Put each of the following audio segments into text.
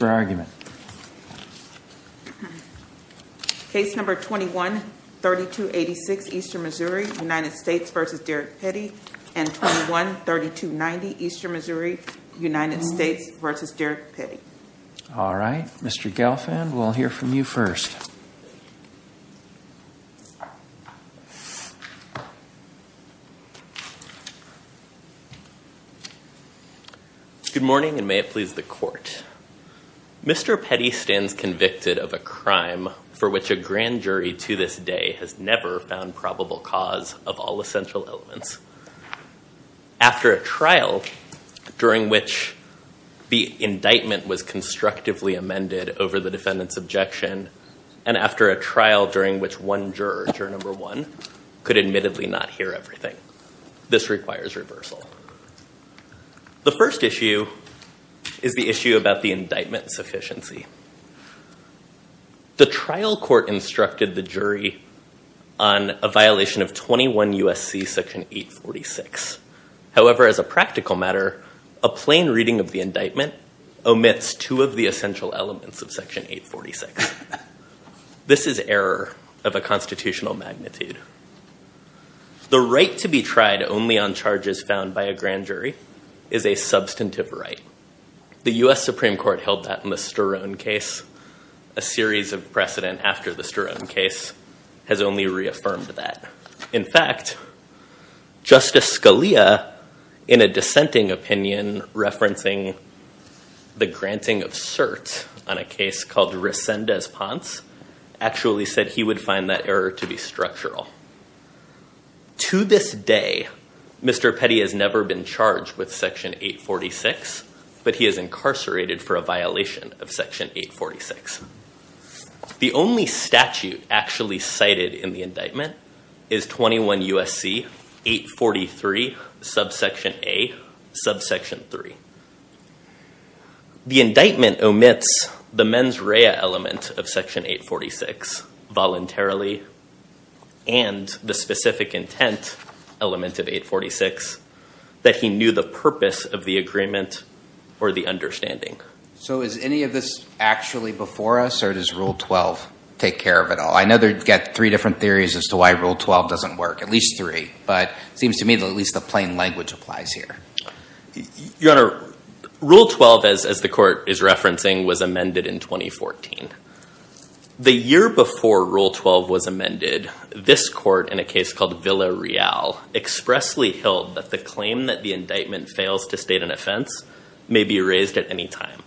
Mr. Gelfand, we'll hear from you first. Good morning, and may it please the court. Mr. Petty stands convicted of a crime for which a grand jury to this day has never found probable cause of all essential elements. After a trial during which the indictment was constructively amended over the defendant's trial during which one juror, juror number one, could admittedly not hear everything. This requires reversal. The first issue is the issue about the indictment sufficiency. The trial court instructed the jury on a violation of 21 U.S.C. section 846. However, as a practical matter, a plain reading of the indictment omits two of the essential elements of section 846. This is error of a constitutional magnitude. The right to be tried only on charges found by a grand jury is a substantive right. The U.S. Supreme Court held that in the Sterone case. A series of precedent after the Sterone case has only reaffirmed that. In fact, Justice Scalia in a dissenting opinion referencing the granting of cert on a case called Resendez-Ponce actually said he would find that error to be structural. To this day, Mr. Petty has never been charged with section 846, but he is incarcerated for a violation of section 846. The only statute actually cited in the indictment is 21 U.S.C. 843 subsection A subsection 3. The indictment omits the mens rea element of section 846 voluntarily and the specific intent element of 846 that he knew the purpose of the agreement or the understanding. So is any of this actually before us or does Rule 12 take care of it all? I know they've got three different theories as to why Rule 12 doesn't work, at least three, but it seems to me that at least the plain language applies here. Your Honor, Rule 12, as the court is referencing, was amended in 2014. The year before Rule 12 was amended, this court in a case called Villareal expressly held that the claim that the indictment fails to state an offense may be erased at any time.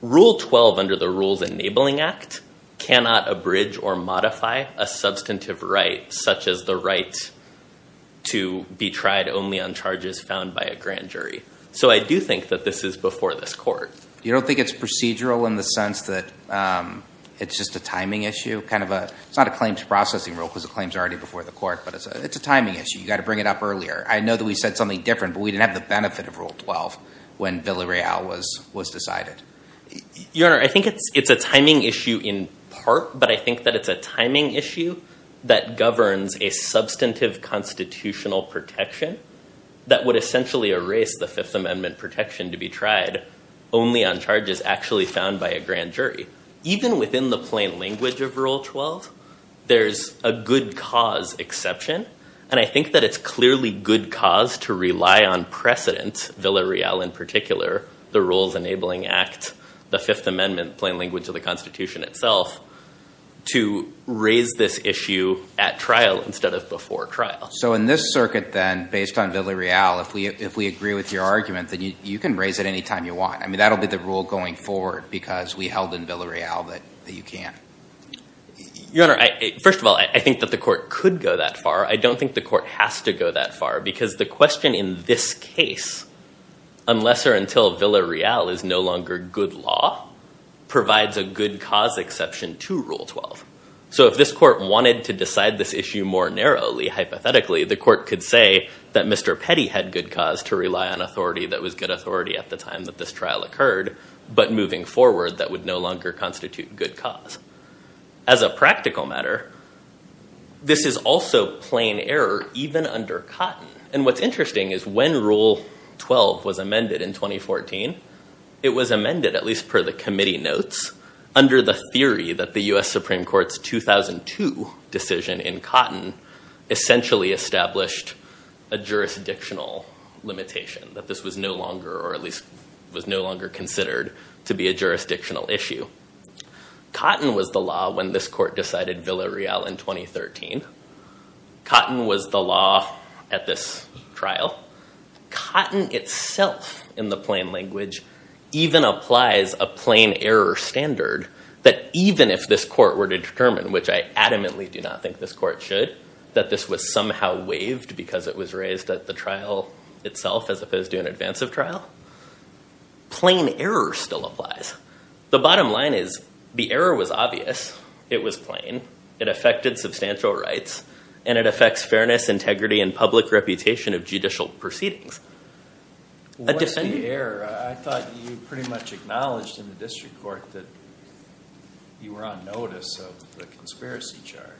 Rule 12 under the Rules Enabling Act cannot abridge or modify a substantive right such as the right to be tried only on charges found by a grand jury. So I do think that this is before this court. You don't think it's procedural in the sense that it's just a timing issue? It's not a claims processing rule because the claim is already before the court, but it's a timing issue. You've got to bring it up earlier. I know that we said something different, but we didn't have the benefit of Rule 12 when Villareal was decided. Your Honor, I think it's a timing issue in part, but I think that it's a timing issue that governs a substantive constitutional protection that would essentially erase the Fifth Amendment protection to be tried only on charges actually found by a grand jury. Even within the plain language of Rule 12, there's a good cause exception. And I think that it's clearly good cause to rely on precedent, Villareal in particular, the Rules Enabling Act, the Fifth Amendment plain language of the Constitution itself, to raise this issue at trial instead of before trial. So in this circuit, then, based on Villareal, if we agree with your argument, then you can raise it any time you want. I mean, that'll be the rule going forward because we held in Villareal that you can. Your Honor, first of all, I think that the court could go that far. I don't think the court has to go that far because the question in this case, unless or until Villareal is no longer good law, provides a good cause exception to Rule 12. So if this court wanted to decide this issue more narrowly, hypothetically, the court could say that Mr. Petty had good cause to rely on authority that was good authority at the time that this trial occurred. But moving forward, that would no longer constitute good cause. As a practical matter, this is also plain error even under Cotton. And what's interesting is when Rule 12 was amended in 2014, it was amended, at least per the committee notes, under the theory that the US Supreme Court's 2002 decision in Cotton essentially established a jurisdictional limitation, that this was no longer, or at least was no longer considered to be a jurisdictional issue. Cotton was the law when this court decided Villareal in 2013. Cotton was the law at this trial. Cotton itself, in the plain language, even applies a plain error standard that even if this court were to determine, which I adamantly do not think this court should, that this was somehow waived because it was raised at the trial itself as opposed to an advance of trial, plain error still applies. The bottom line is the error was obvious. It was plain. It affected substantial rights. And it affects fairness, integrity, and public reputation of judicial proceedings. What is the error? I thought you pretty much acknowledged in the district court that you were on notice of the conspiracy charge.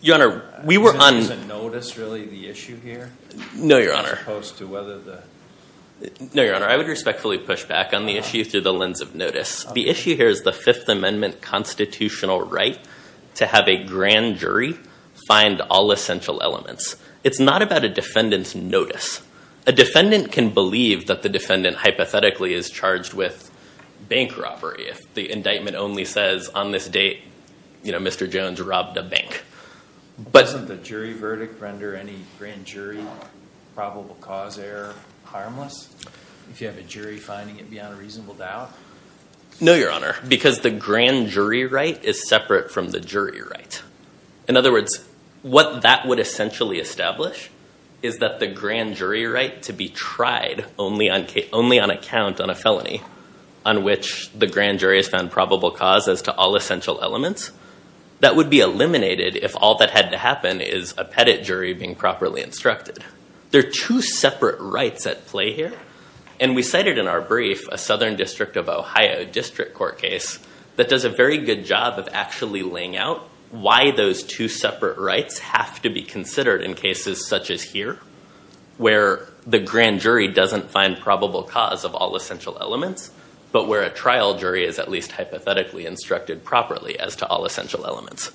Your Honor, we were on notice, really, of the issue here? No, Your Honor. As opposed to whether the? No, Your Honor. I would respectfully push back on the issue through the lens of notice. The issue here is the Fifth Amendment constitutional right to have a grand jury find all essential elements. It's not about a defendant's notice. A defendant can believe that the defendant hypothetically is charged with bank robbery if the indictment only says, on this date, Mr. Jones robbed a bank. Doesn't the jury verdict render any grand jury probable cause error harmless? If you have a jury finding it beyond a reasonable doubt? No, Your Honor, because the grand jury right is separate from the jury right. In other words, what that would essentially establish is that the grand jury right to be tried only on account on a felony on which the grand jury has found probable cause as to all essential elements, that would be eliminated if all that had to happen is a pettit jury being properly instructed. There are two separate rights at play here. And we cited in our brief a Southern District of Ohio District Court case that does a very good job of actually laying out why those two separate rights have to be considered in cases such as here, where the grand jury doesn't find probable cause of all essential elements, but where a trial jury is at least hypothetically instructed properly as to all essential elements.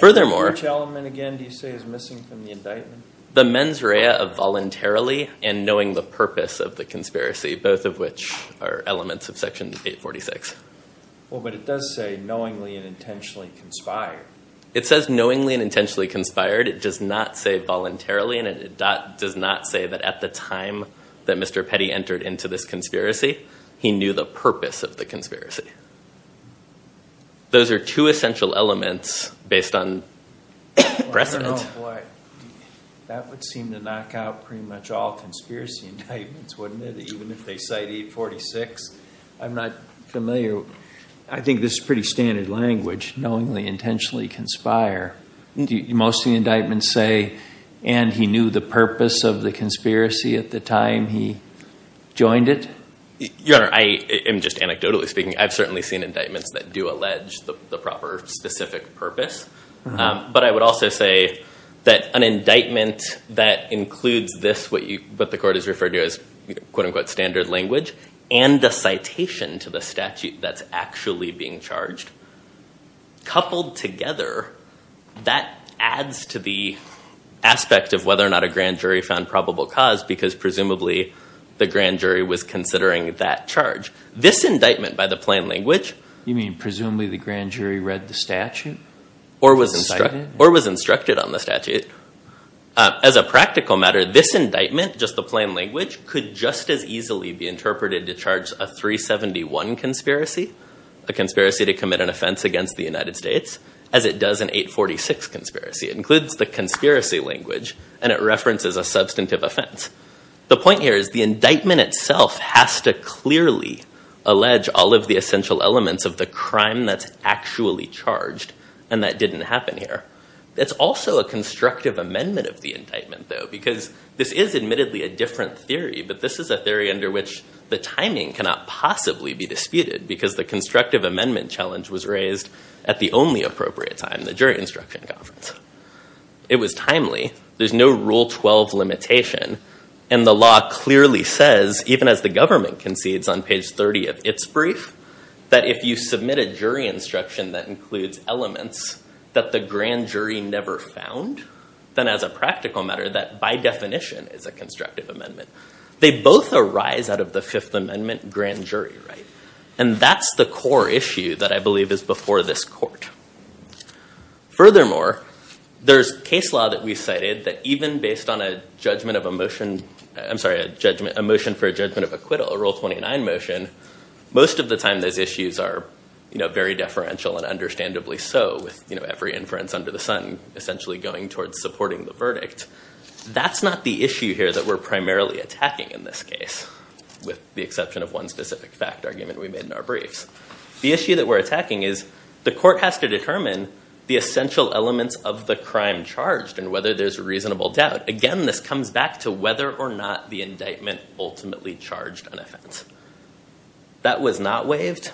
Furthermore? Which element, again, do you say is missing from the indictment? The mens rea of voluntarily and knowing the purpose of the conspiracy, both of which are elements of Section 846. Well, but it does say knowingly and intentionally conspired. It says knowingly and intentionally conspired. It does not say voluntarily. And it does not say that at the time that Mr. Petty entered into this conspiracy, he knew the purpose of the conspiracy. Those are two essential elements based on precedent. Oh, boy. That would seem to knock out pretty much all conspiracy indictments, wouldn't it? Even if they cite 846. I'm not familiar. I think this is pretty standard language, knowingly, intentionally conspire. Most of the indictments say, and he knew the purpose of the conspiracy at the time he joined it. Your Honor, I am just anecdotally speaking. I've certainly seen indictments that do allege the proper specific purpose. But I would also say that an indictment that includes this, what the court has referred to as, quote unquote, standard language, and the citation to the statute that's actually being charged, coupled together, that adds to the aspect of whether or not a grand jury found probable cause. Because presumably, the grand jury was considering that charge. This indictment, by the plain language. You mean, presumably, the grand jury read the statute? Or was instructed on the statute. As a practical matter, this indictment, just the plain language, could just as easily be interpreted to charge a 371 conspiracy, a conspiracy to commit an offense against the United States, as it does an 846 conspiracy. It includes the conspiracy language. And it references a substantive offense. The point here is, the indictment itself has to clearly allege all of the essential elements of the crime that's actually charged. And that didn't happen here. It's also a constructive amendment of the indictment, though, because this is admittedly a different theory. But this is a theory under which the timing cannot possibly be disputed. Because the constructive amendment challenge was raised at the only appropriate time, the jury instruction conference. It was timely. There's no Rule 12 limitation. And the law clearly says, even as the government concedes on page 30 of its brief, that if you submit a jury instruction that includes elements that the grand jury never found, then as a practical matter, that by definition is a constructive amendment. They both arise out of the Fifth Amendment grand jury, right? And that's the core issue that I believe is before this court. Furthermore, there's case law that we cited that even based on a motion for a judgment of acquittal, a Rule 29 motion, most of the time those issues are very deferential and understandably so, with every inference under the sun essentially going towards supporting the verdict. That's not the issue here that we're primarily attacking in this case, with the exception of one specific fact argument we made in our briefs. The issue that we're attacking is, the court has to determine the essential elements of the crime charged and whether there's a reasonable doubt. Again, this comes back to whether or not the indictment ultimately charged an offense. That was not waived,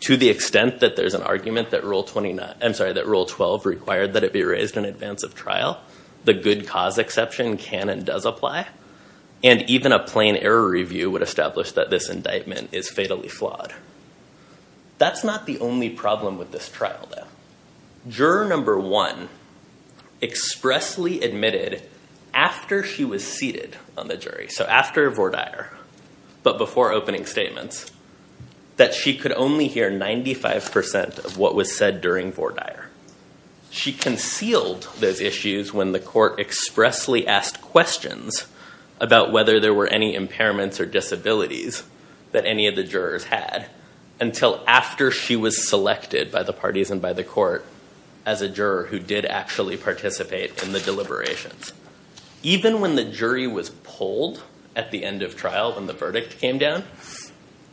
to the extent that there's an argument that Rule 12 required that it be raised in advance of trial. The good cause exception can and does apply. And even a plain error review would establish that this indictment is fatally flawed. That's not the only problem with this trial, though. Juror number one expressly admitted, after she was seated on the jury, so after Vordaer, but before opening statements, that she could only hear 95% of what was said during Vordaer. She concealed those issues when the court expressly asked questions about whether there were any impairments or disabilities that any of the jurors had until after she was selected by the parties and by the court as a juror who did actually participate in the deliberations. Even when the jury was polled at the end of trial when the verdict came down,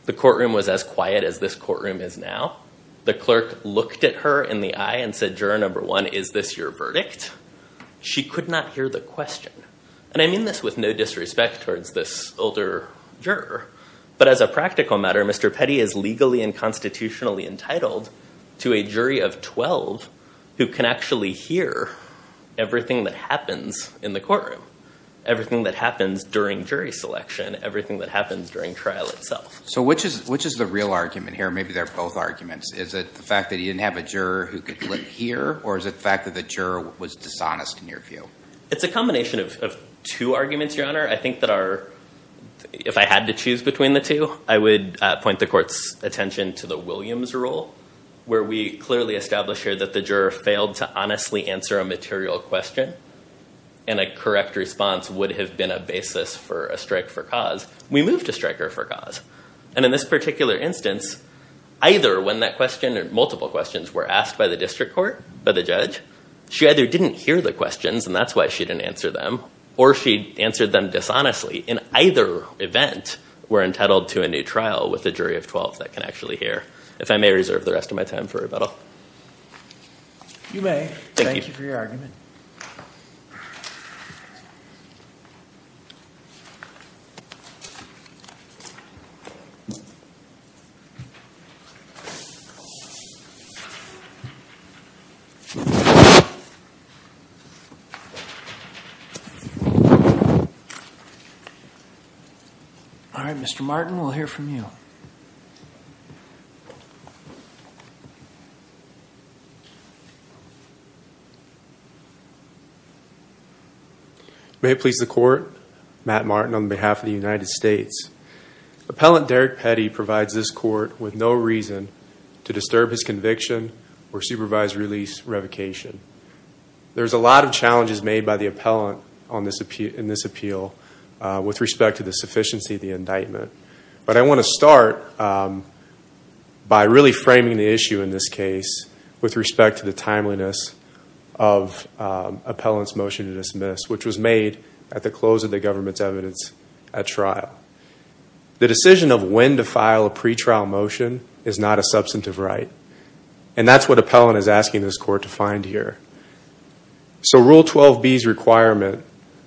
the courtroom was as quiet as this courtroom is now. The clerk looked at her in the eye and said, juror number one, is this your verdict? She could not hear the question. And I mean this with no disrespect towards this older juror, but as a practical matter, Mr. Petty is legally and constitutionally entitled to a jury of 12 who can actually hear everything that happens in the courtroom, everything that happens during jury selection, everything that happens during trial itself. So which is the real argument here? Maybe they're both arguments. Is it the fact that he didn't have a juror who could hear, or is it the fact that the juror was dishonest in your view? It's a combination of two arguments, Your Honor. I think that if I had to choose between the two, I would point the court's attention to the Williams rule, where we clearly establish here that the juror failed to honestly answer a material question, and a correct response would have been a basis for a strike for cause. We moved a striker for cause. And in this particular instance, either when that question, or multiple questions, were asked by the district court, by the judge, she either didn't hear the questions, and that's why she didn't answer them, or she answered them dishonestly. In either event, we're entitled to a new trial with a jury of 12 that can actually hear, if I may reserve the rest of my time for rebuttal. You may. Thank you for your argument. All right, Mr. Martin, we'll hear from you. May it please the court, Matt Martin, on behalf of the United States. Appellant Derek Petty provides this court with no reason to disturb his conviction or supervised and I'm going to try to answer them all. The judge is made by the appellant in this appeal with respect to the sufficiency of the indictment. But I want to start by really framing the issue in this case with respect to the timeliness of appellant's motion to dismiss, which was made at the close of the government's evidence at trial. The decision of when to file a pretrial motion is not a substantive right. And that's what appellant is asking this court to find here. So Rule 12b's requirement,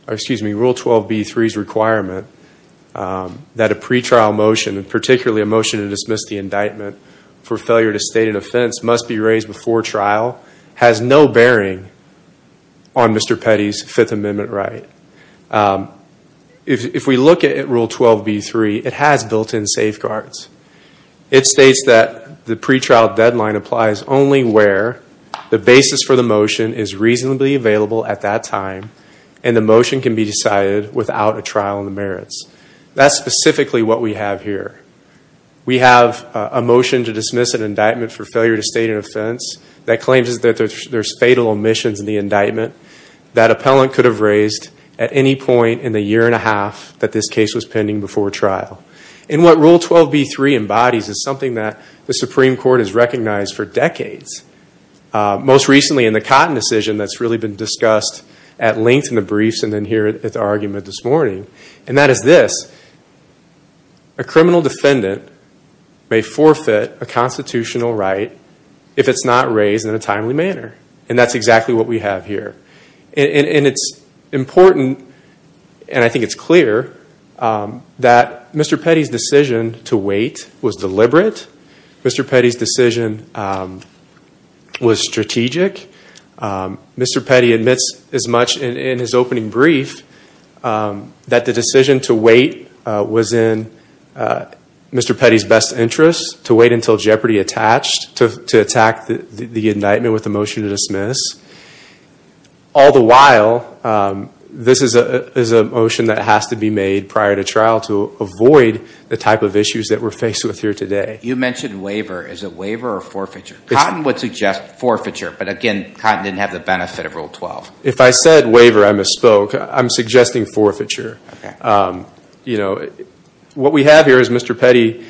or excuse me, Rule 12b3's requirement that a pretrial motion, particularly a motion to dismiss the indictment for failure to state an offense, must be raised before trial has no bearing on Mr. Petty's Fifth Amendment right. If we look at Rule 12b3, it has built-in safeguards. It states that the pretrial deadline applies only where the basis for the motion is reasonably available at that time, and the motion can be decided without a trial in the merits. That's specifically what we have here. We have a motion to dismiss an indictment for failure to state an offense that claims that there's fatal omissions in the indictment that appellant could have raised at any point in the year and a half that this case was pending before trial. And what Rule 12b3 embodies is something that the Supreme Court has recognized for decades, most recently in the Cotton decision that's really been discussed at length in the briefs and then here at the argument this morning. And that is this. A criminal defendant may forfeit a constitutional right if it's not raised in a timely manner. And that's exactly what we have here. And it's important, and I think it's clear, that Mr. Petty's decision to wait was deliberate. Mr. Petty's decision was strategic. Mr. Petty admits as much in his opening brief that the decision to wait was in Mr. Petty's best interest, to wait until jeopardy attached to attack the indictment with a motion to dismiss. All the while, this is a motion that has to be made prior to trial to avoid the type of issues that we're faced with here today. You mentioned waiver. Is it waiver or forfeiture? Cotton would suggest forfeiture. But again, Cotton didn't have the benefit of Rule 12. If I said waiver, I misspoke. I'm suggesting forfeiture. What we have here is Mr. Petty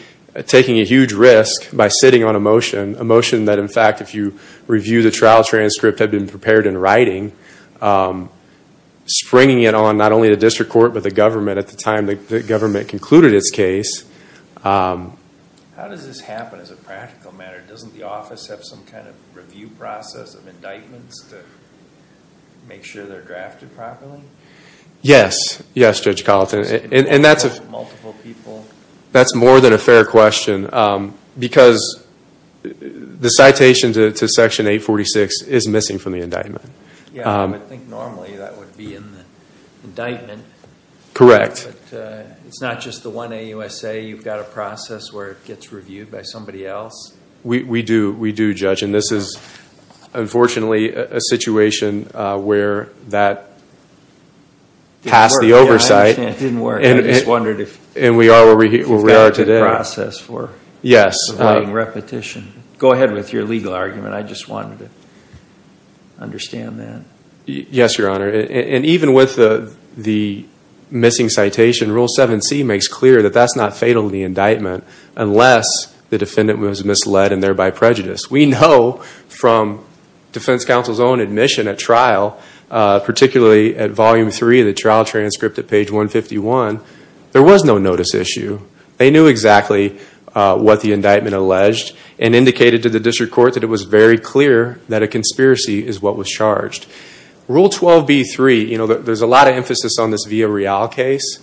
taking a huge risk by sitting on a motion, a motion that, in fact, if you review the trial transcript, had been prepared in writing, springing it on not only the district court, but the government at the time the government concluded its case. How does this happen as a practical matter? Doesn't the office have some kind of review process of indictments to make sure they're drafted properly? Yes. Yes, Judge Colleton. And that's a multiple people. That's more than a fair question. Because the citation to Section 846 is missing from the indictment. Yeah, I think normally that would be in the indictment. Correct. It's not just the one AUSA. You've got a process where it gets reviewed by somebody else. We do. We do, Judge. And this is, unfortunately, a situation where that passed the oversight. Yeah, I understand. It didn't work. I just wondered if you've got a good process for it. Yes. Repetition. Go ahead with your legal argument. I just wanted to understand that. Yes, Your Honor. And even with the missing citation, Rule 7c makes clear that that's not fatal in the indictment unless the defendant was misled and thereby prejudiced. We know from defense counsel's own admission at trial, particularly at Volume 3, the trial transcript at page 151, there was no notice issue. They knew exactly what the indictment alleged and indicated to the district court that it was very clear that a conspiracy is what was charged. Rule 12b3, there's a lot of emphasis on this Villarreal case.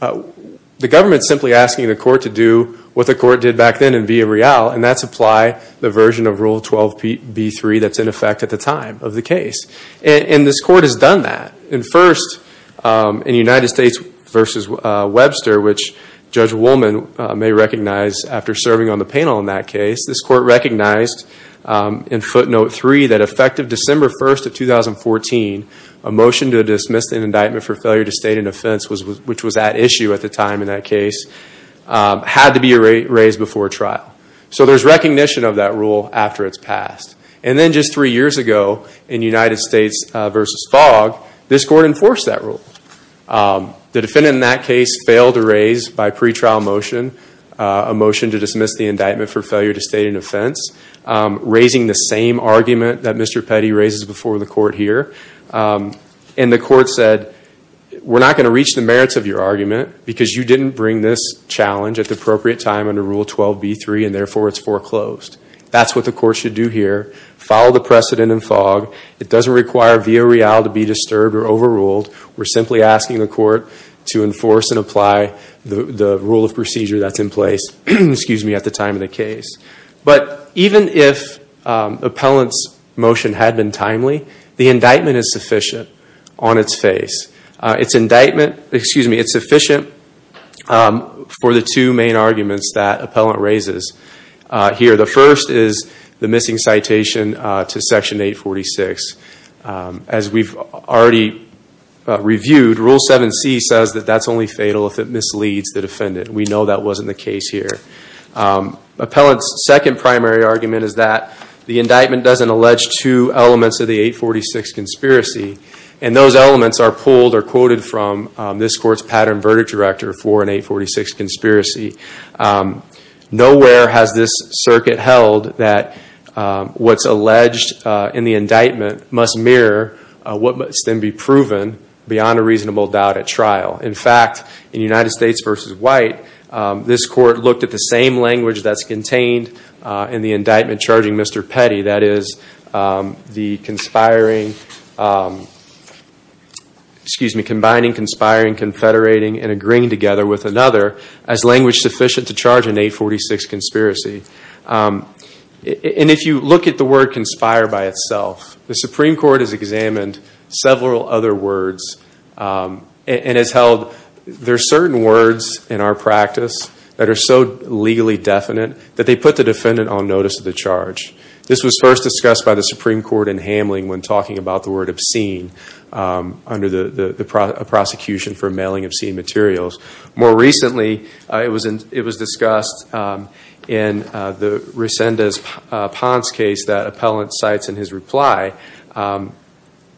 The government's simply asking the court to do what the court did back then in Villarreal, and that's apply the version of Rule 12b3 that's in effect at the time of the case. And this court has done that. And first, in United States versus Webster, which Judge Woolman may recognize after serving on the panel in that case, this court recognized in footnote 3 that effective December 1 of 2014, a motion to dismiss an indictment for failure to state an offense, which was at issue at the time in that case, had to be raised before trial. So there's recognition of that rule after it's passed. And then just three years ago in United States versus Fogg, this court enforced that rule. The defendant in that case failed to raise by pretrial motion a motion to dismiss the indictment for failure to state an offense, raising the same argument that Mr. Petty raises before the court here. And the court said, we're not going to reach the merits of your argument because you didn't bring this challenge at the appropriate time under Rule 12b3, and therefore it's foreclosed. That's what the court should do here. Follow the precedent in Fogg. It doesn't require Villarreal to be disturbed or overruled. We're simply asking the court to enforce and apply the rule of procedure that's in place at the time of the case. But even if the appellant's motion had been timely, the indictment is sufficient on its face. It's indictment, excuse me, it's sufficient for the two main arguments that appellant raises here. The first is the missing citation to Section 846. As we've already reviewed, Rule 7c says that that's only fatal if it misleads the defendant. We know that wasn't the case here. Appellant's second primary argument is that the indictment doesn't allege two elements of the 846 conspiracy. And those elements are pulled or quoted from this court's pattern verdict director for an 846 conspiracy. Nowhere has this circuit held that what's must mirror what must then be proven beyond a reasonable doubt at trial. In fact, in United States v. White, this court looked at the same language that's contained in the indictment charging Mr. Petty, that is, combining conspiring, confederating, and agreeing together with another as language sufficient to charge an 846 conspiracy. And if you look at the word conspire by itself, the Supreme Court has examined several other words and has held there are certain words in our practice that are so legally definite that they put the defendant on notice of the charge. This was first discussed by the Supreme Court in Hamling when talking about the word obscene under the prosecution for mailing obscene materials. More recently, it was discussed in the Resendez-Pons case that appellant cites in his reply.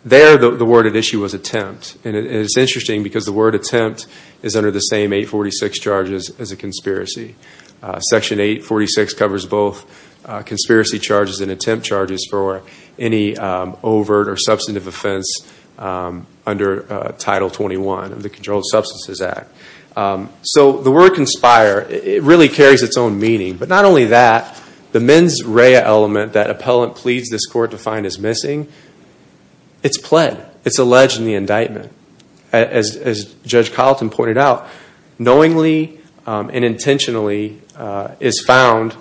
There, the word at issue was attempt. And it's interesting because the word attempt is under the same 846 charges as a conspiracy. Section 846 covers both conspiracy charges and attempt charges for any overt or substantive offense under Title 21 of the Controlled Substances Act. So the word conspire, it really carries its own meaning. But not only that, the mens rea element that appellant pleads this court to find is missing, it's pled. It's alleged in the indictment. As Judge Colleton pointed out, knowingly and intentionally is found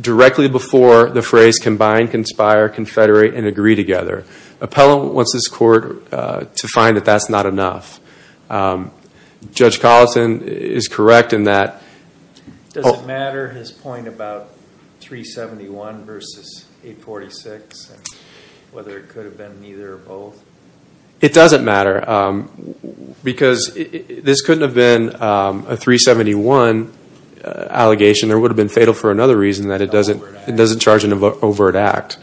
directly before the phrase combine, conspire, confederate, and agree together. Appellant wants this court to find that that's not enough. Judge Colleton is correct in that. Does it matter, his point about 371 versus 846, whether it could have been either or both? It doesn't matter. Because this couldn't have been a 371 allegation. There would have been fatal for another reason that it doesn't charge an overt act.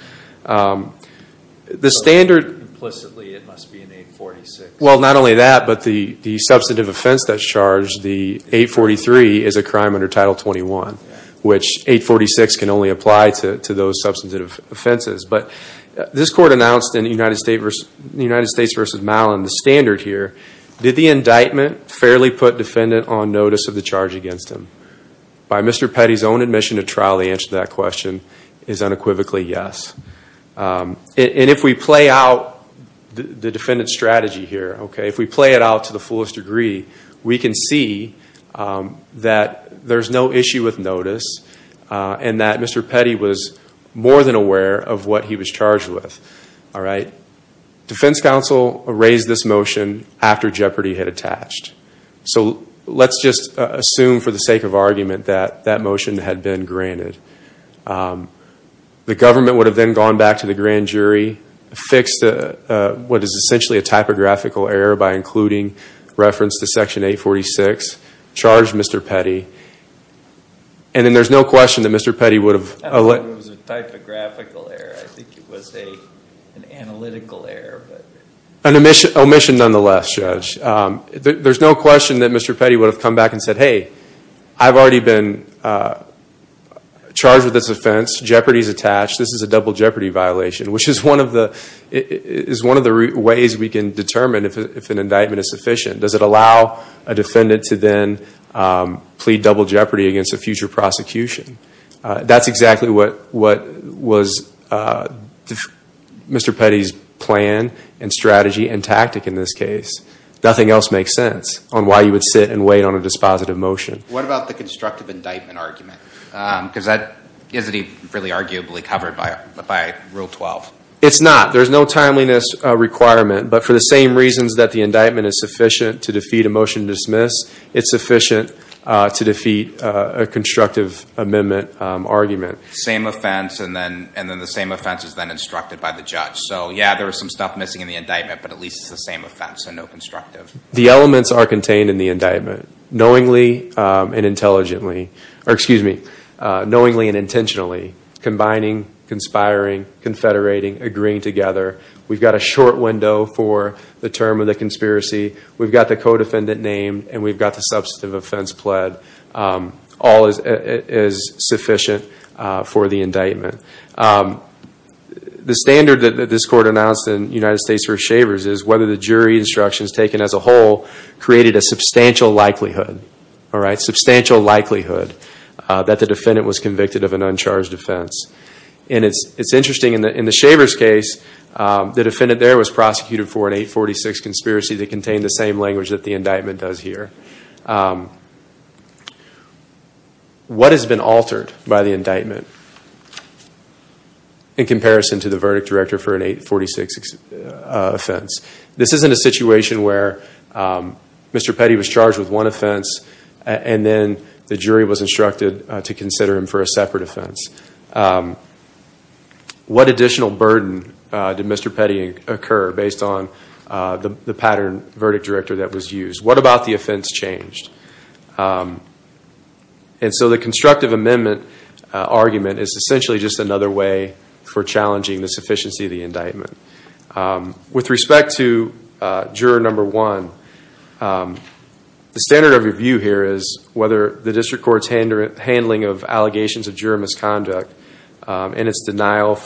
The standard implicitly, it must be an 846. Well, not only that, but the substantive offense that's charged, the 843, is a crime under Title 21, which 846 can only apply to those substantive offenses. But this court announced in the United States versus Mallin, the standard here, did the indictment fairly put defendant on notice of the charge against him? By Mr. Petty's own admission to trial, the answer to that question is unequivocally yes. And if we play out the defendant's strategy here, if we play it out to the fullest degree, we can see that there's no issue with notice and that Mr. Petty was more than aware of what he was charged with. Defense counsel raised this motion after Jeopardy had attached. So let's just assume for the sake of argument that that motion had been granted. The government would have then gone back to the grand jury, fixed what is essentially a typographical error by including reference to Section 846, charged Mr. Petty. And then there's no question that Mr. Petty would have I don't know if it was a typographical error. I think it was an analytical error. An omission nonetheless, Judge. There's no question that Mr. Petty would have come back and said, hey, I've already been charged with this offense. Jeopardy's attached. This is a double Jeopardy violation, which is one of the ways we can determine if an indictment is sufficient. Does it allow a defendant to then plead double Jeopardy against a future prosecution? That's exactly what was Mr. Petty's plan and strategy and tactic in this case. Nothing else makes sense on why you would sit and wait on a dispositive motion. What about the constructive indictment argument? Because that isn't really arguably covered by Rule 12. It's not. There's no timeliness requirement. But for the same reasons that the indictment is sufficient to defeat a motion to dismiss, it's sufficient to defeat a constructive amendment argument. Same offense, and then the same offense is then instructed by the judge. So yeah, there is some stuff missing in the indictment, but at least it's the same offense, so no constructive. The elements are contained in the indictment, knowingly and intelligently, or excuse me, knowingly and intentionally combining, conspiring, confederating, agreeing together. We've got a short window for the term of the conspiracy. We've got the codefendant named, and we've got the substantive offense pled. All is sufficient for the indictment. The standard that this court announced in United States versus Shavers is whether the jury instructions taken as a whole created a substantial likelihood, substantial likelihood that the defendant was convicted of an uncharged offense. And it's interesting, in the Shavers case, the defendant there was prosecuted for an 846 conspiracy that contained the same language that the indictment does here. What has been altered by the indictment in comparison to the verdict director for an 846 offense? This isn't a situation where Mr. Petty was charged with one offense, and then the jury was instructed to consider him for a separate offense. What additional burden did Mr. Petty occur based on the pattern verdict director that was used? What about the offense changed? And so the constructive amendment argument is essentially just another way for challenging the sufficiency of the indictment. With respect to juror number one, the standard of review here is whether the district court's handling of allegations of juror misconduct and its denial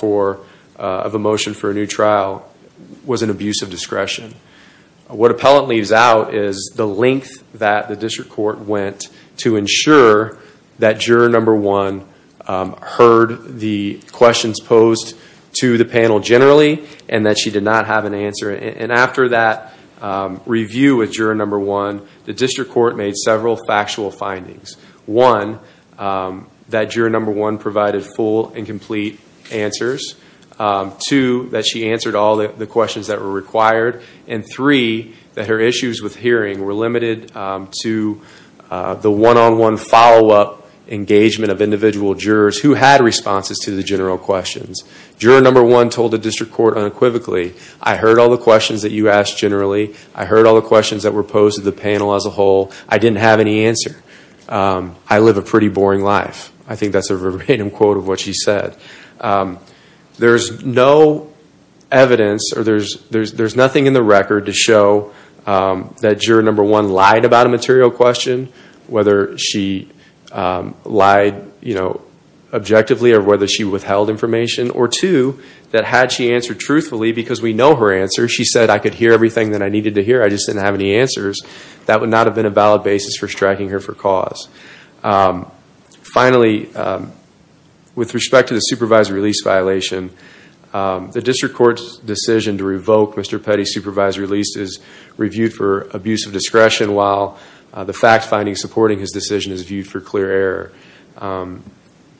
of a motion for a new trial was an abuse of discretion. What appellant leaves out is the length that the district court went to ensure that juror number one heard the questions posed to the panel generally, and that she did not have an answer. And after that review with juror number one, the district court made several factual findings. One, that juror number one provided full and complete answers. Two, that she answered all the questions that were required. And three, that her issues with hearing were limited to the one-on-one follow-up engagement of individual jurors who had responses to the general questions. Juror number one told the district court unequivocally, I heard all the questions that you asked generally. I heard all the questions that were posed to the panel as a whole. I didn't have any answer. I live a pretty boring life. I think that's a random quote of what she said. There's no evidence, or there's nothing in the record to show that juror number one lied about a material question, whether she lied objectively, or whether she withheld information. Or two, that had she answered truthfully, because we know her answer. She said, I could hear everything that I needed to hear. I just didn't have any answers. That would not have been a valid basis for striking her for cause. Finally, with respect to the supervisory release violation, the district court's decision to revoke Mr. Petty's supervised release is reviewed for abuse of discretion while the fact finding supporting his decision is viewed for clear error.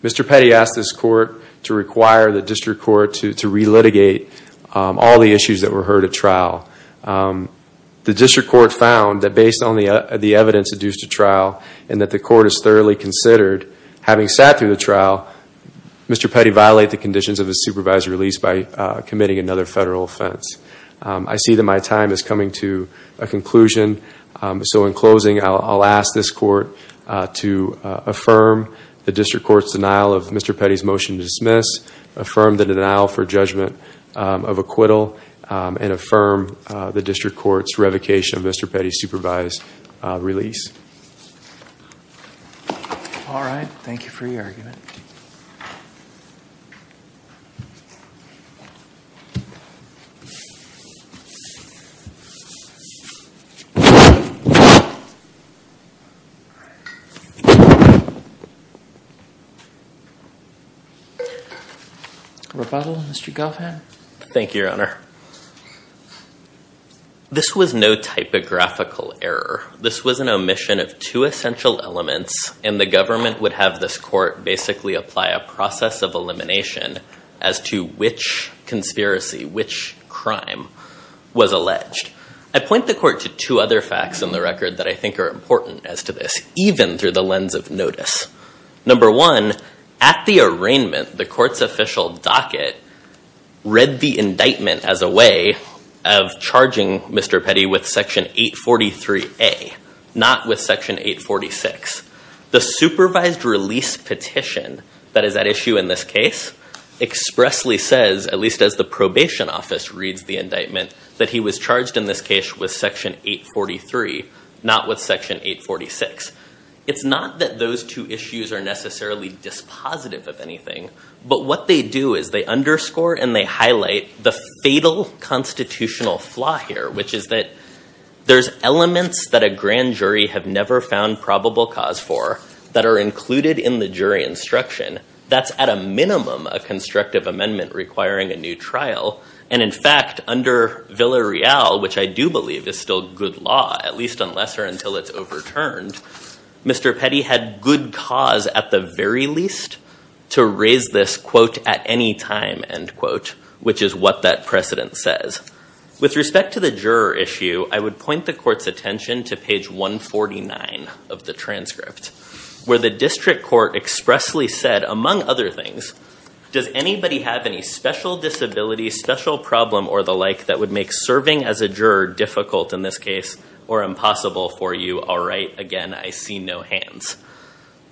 Mr. Petty asked this court to require the district court to re-litigate all the issues that were heard at trial. The district court found that based on the evidence adduced at trial, and that the court has thoroughly considered, having sat through the trial, Mr. Petty violated the conditions of his supervised release by committing another federal offense. I see that my time is coming to a conclusion. So in closing, I'll ask this court to affirm the district court's denial of Mr. Petty's motion to dismiss, affirm the denial for judgment of acquittal, and affirm the district court's revocation of Mr. Petty's supervised release. All right. Thank you for your argument. All right. Rebuttal, Mr. Goffin? Thank you, Your Honor. This was no typographical error. This was an omission of two essential elements, and the government would have this court basically apply a process of elimination as to which conspiracy, which crime was alleged. I point the court to two other facts in the record that I think are important as to this, even through the lens of notice. Number one, at the arraignment, the court's official docket read the indictment as a way of charging Mr. Petty with section 843A, not with section 846. The supervised release petition that is at issue in this case expressly says, at least as the probation office reads the indictment, that he was charged in this case with section 843, not with section 846. It's not that those two issues are necessarily dispositive of anything, but what they do is they underscore and they highlight the fatal constitutional flaw here, which is that there's elements that a grand jury have never found probable cause for that are included in the jury instruction. That's, at a minimum, a constructive amendment requiring a new trial. And in fact, under Villarreal, which I do believe is still good law, at least unless or until it's overturned, Mr. Petty had good cause, at the very least, to raise this, quote, at any time, end quote, which is what that precedent says. With respect to the juror issue, I would point the court's attention to page 149 of the transcript, where the district court expressly said, among other things, does anybody have any special disability, special problem, or the like, that would make serving as a juror difficult, in this case, or impossible for you? All right, again, I see no hands.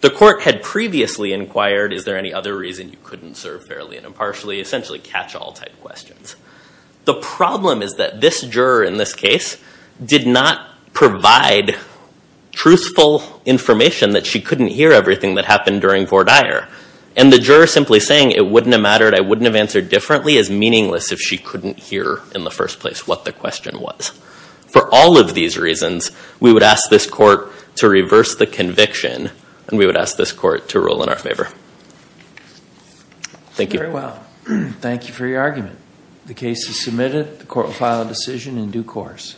The court had previously inquired, is there any other reason you couldn't serve fairly and impartially? Essentially, catch-all type questions. The problem is that this juror, in this case, did not provide truthful information that she couldn't hear everything that happened during Vordeyer. And the juror simply saying, it wouldn't have mattered, I wouldn't have answered differently, is meaningless if she couldn't hear, in the first place, what the question was. For all of these reasons, we would ask this court to reverse the conviction, and we would ask this court to rule in our favor. Thank you. Very well. Thank you for your argument. The case is submitted. The court will file a decision in due course.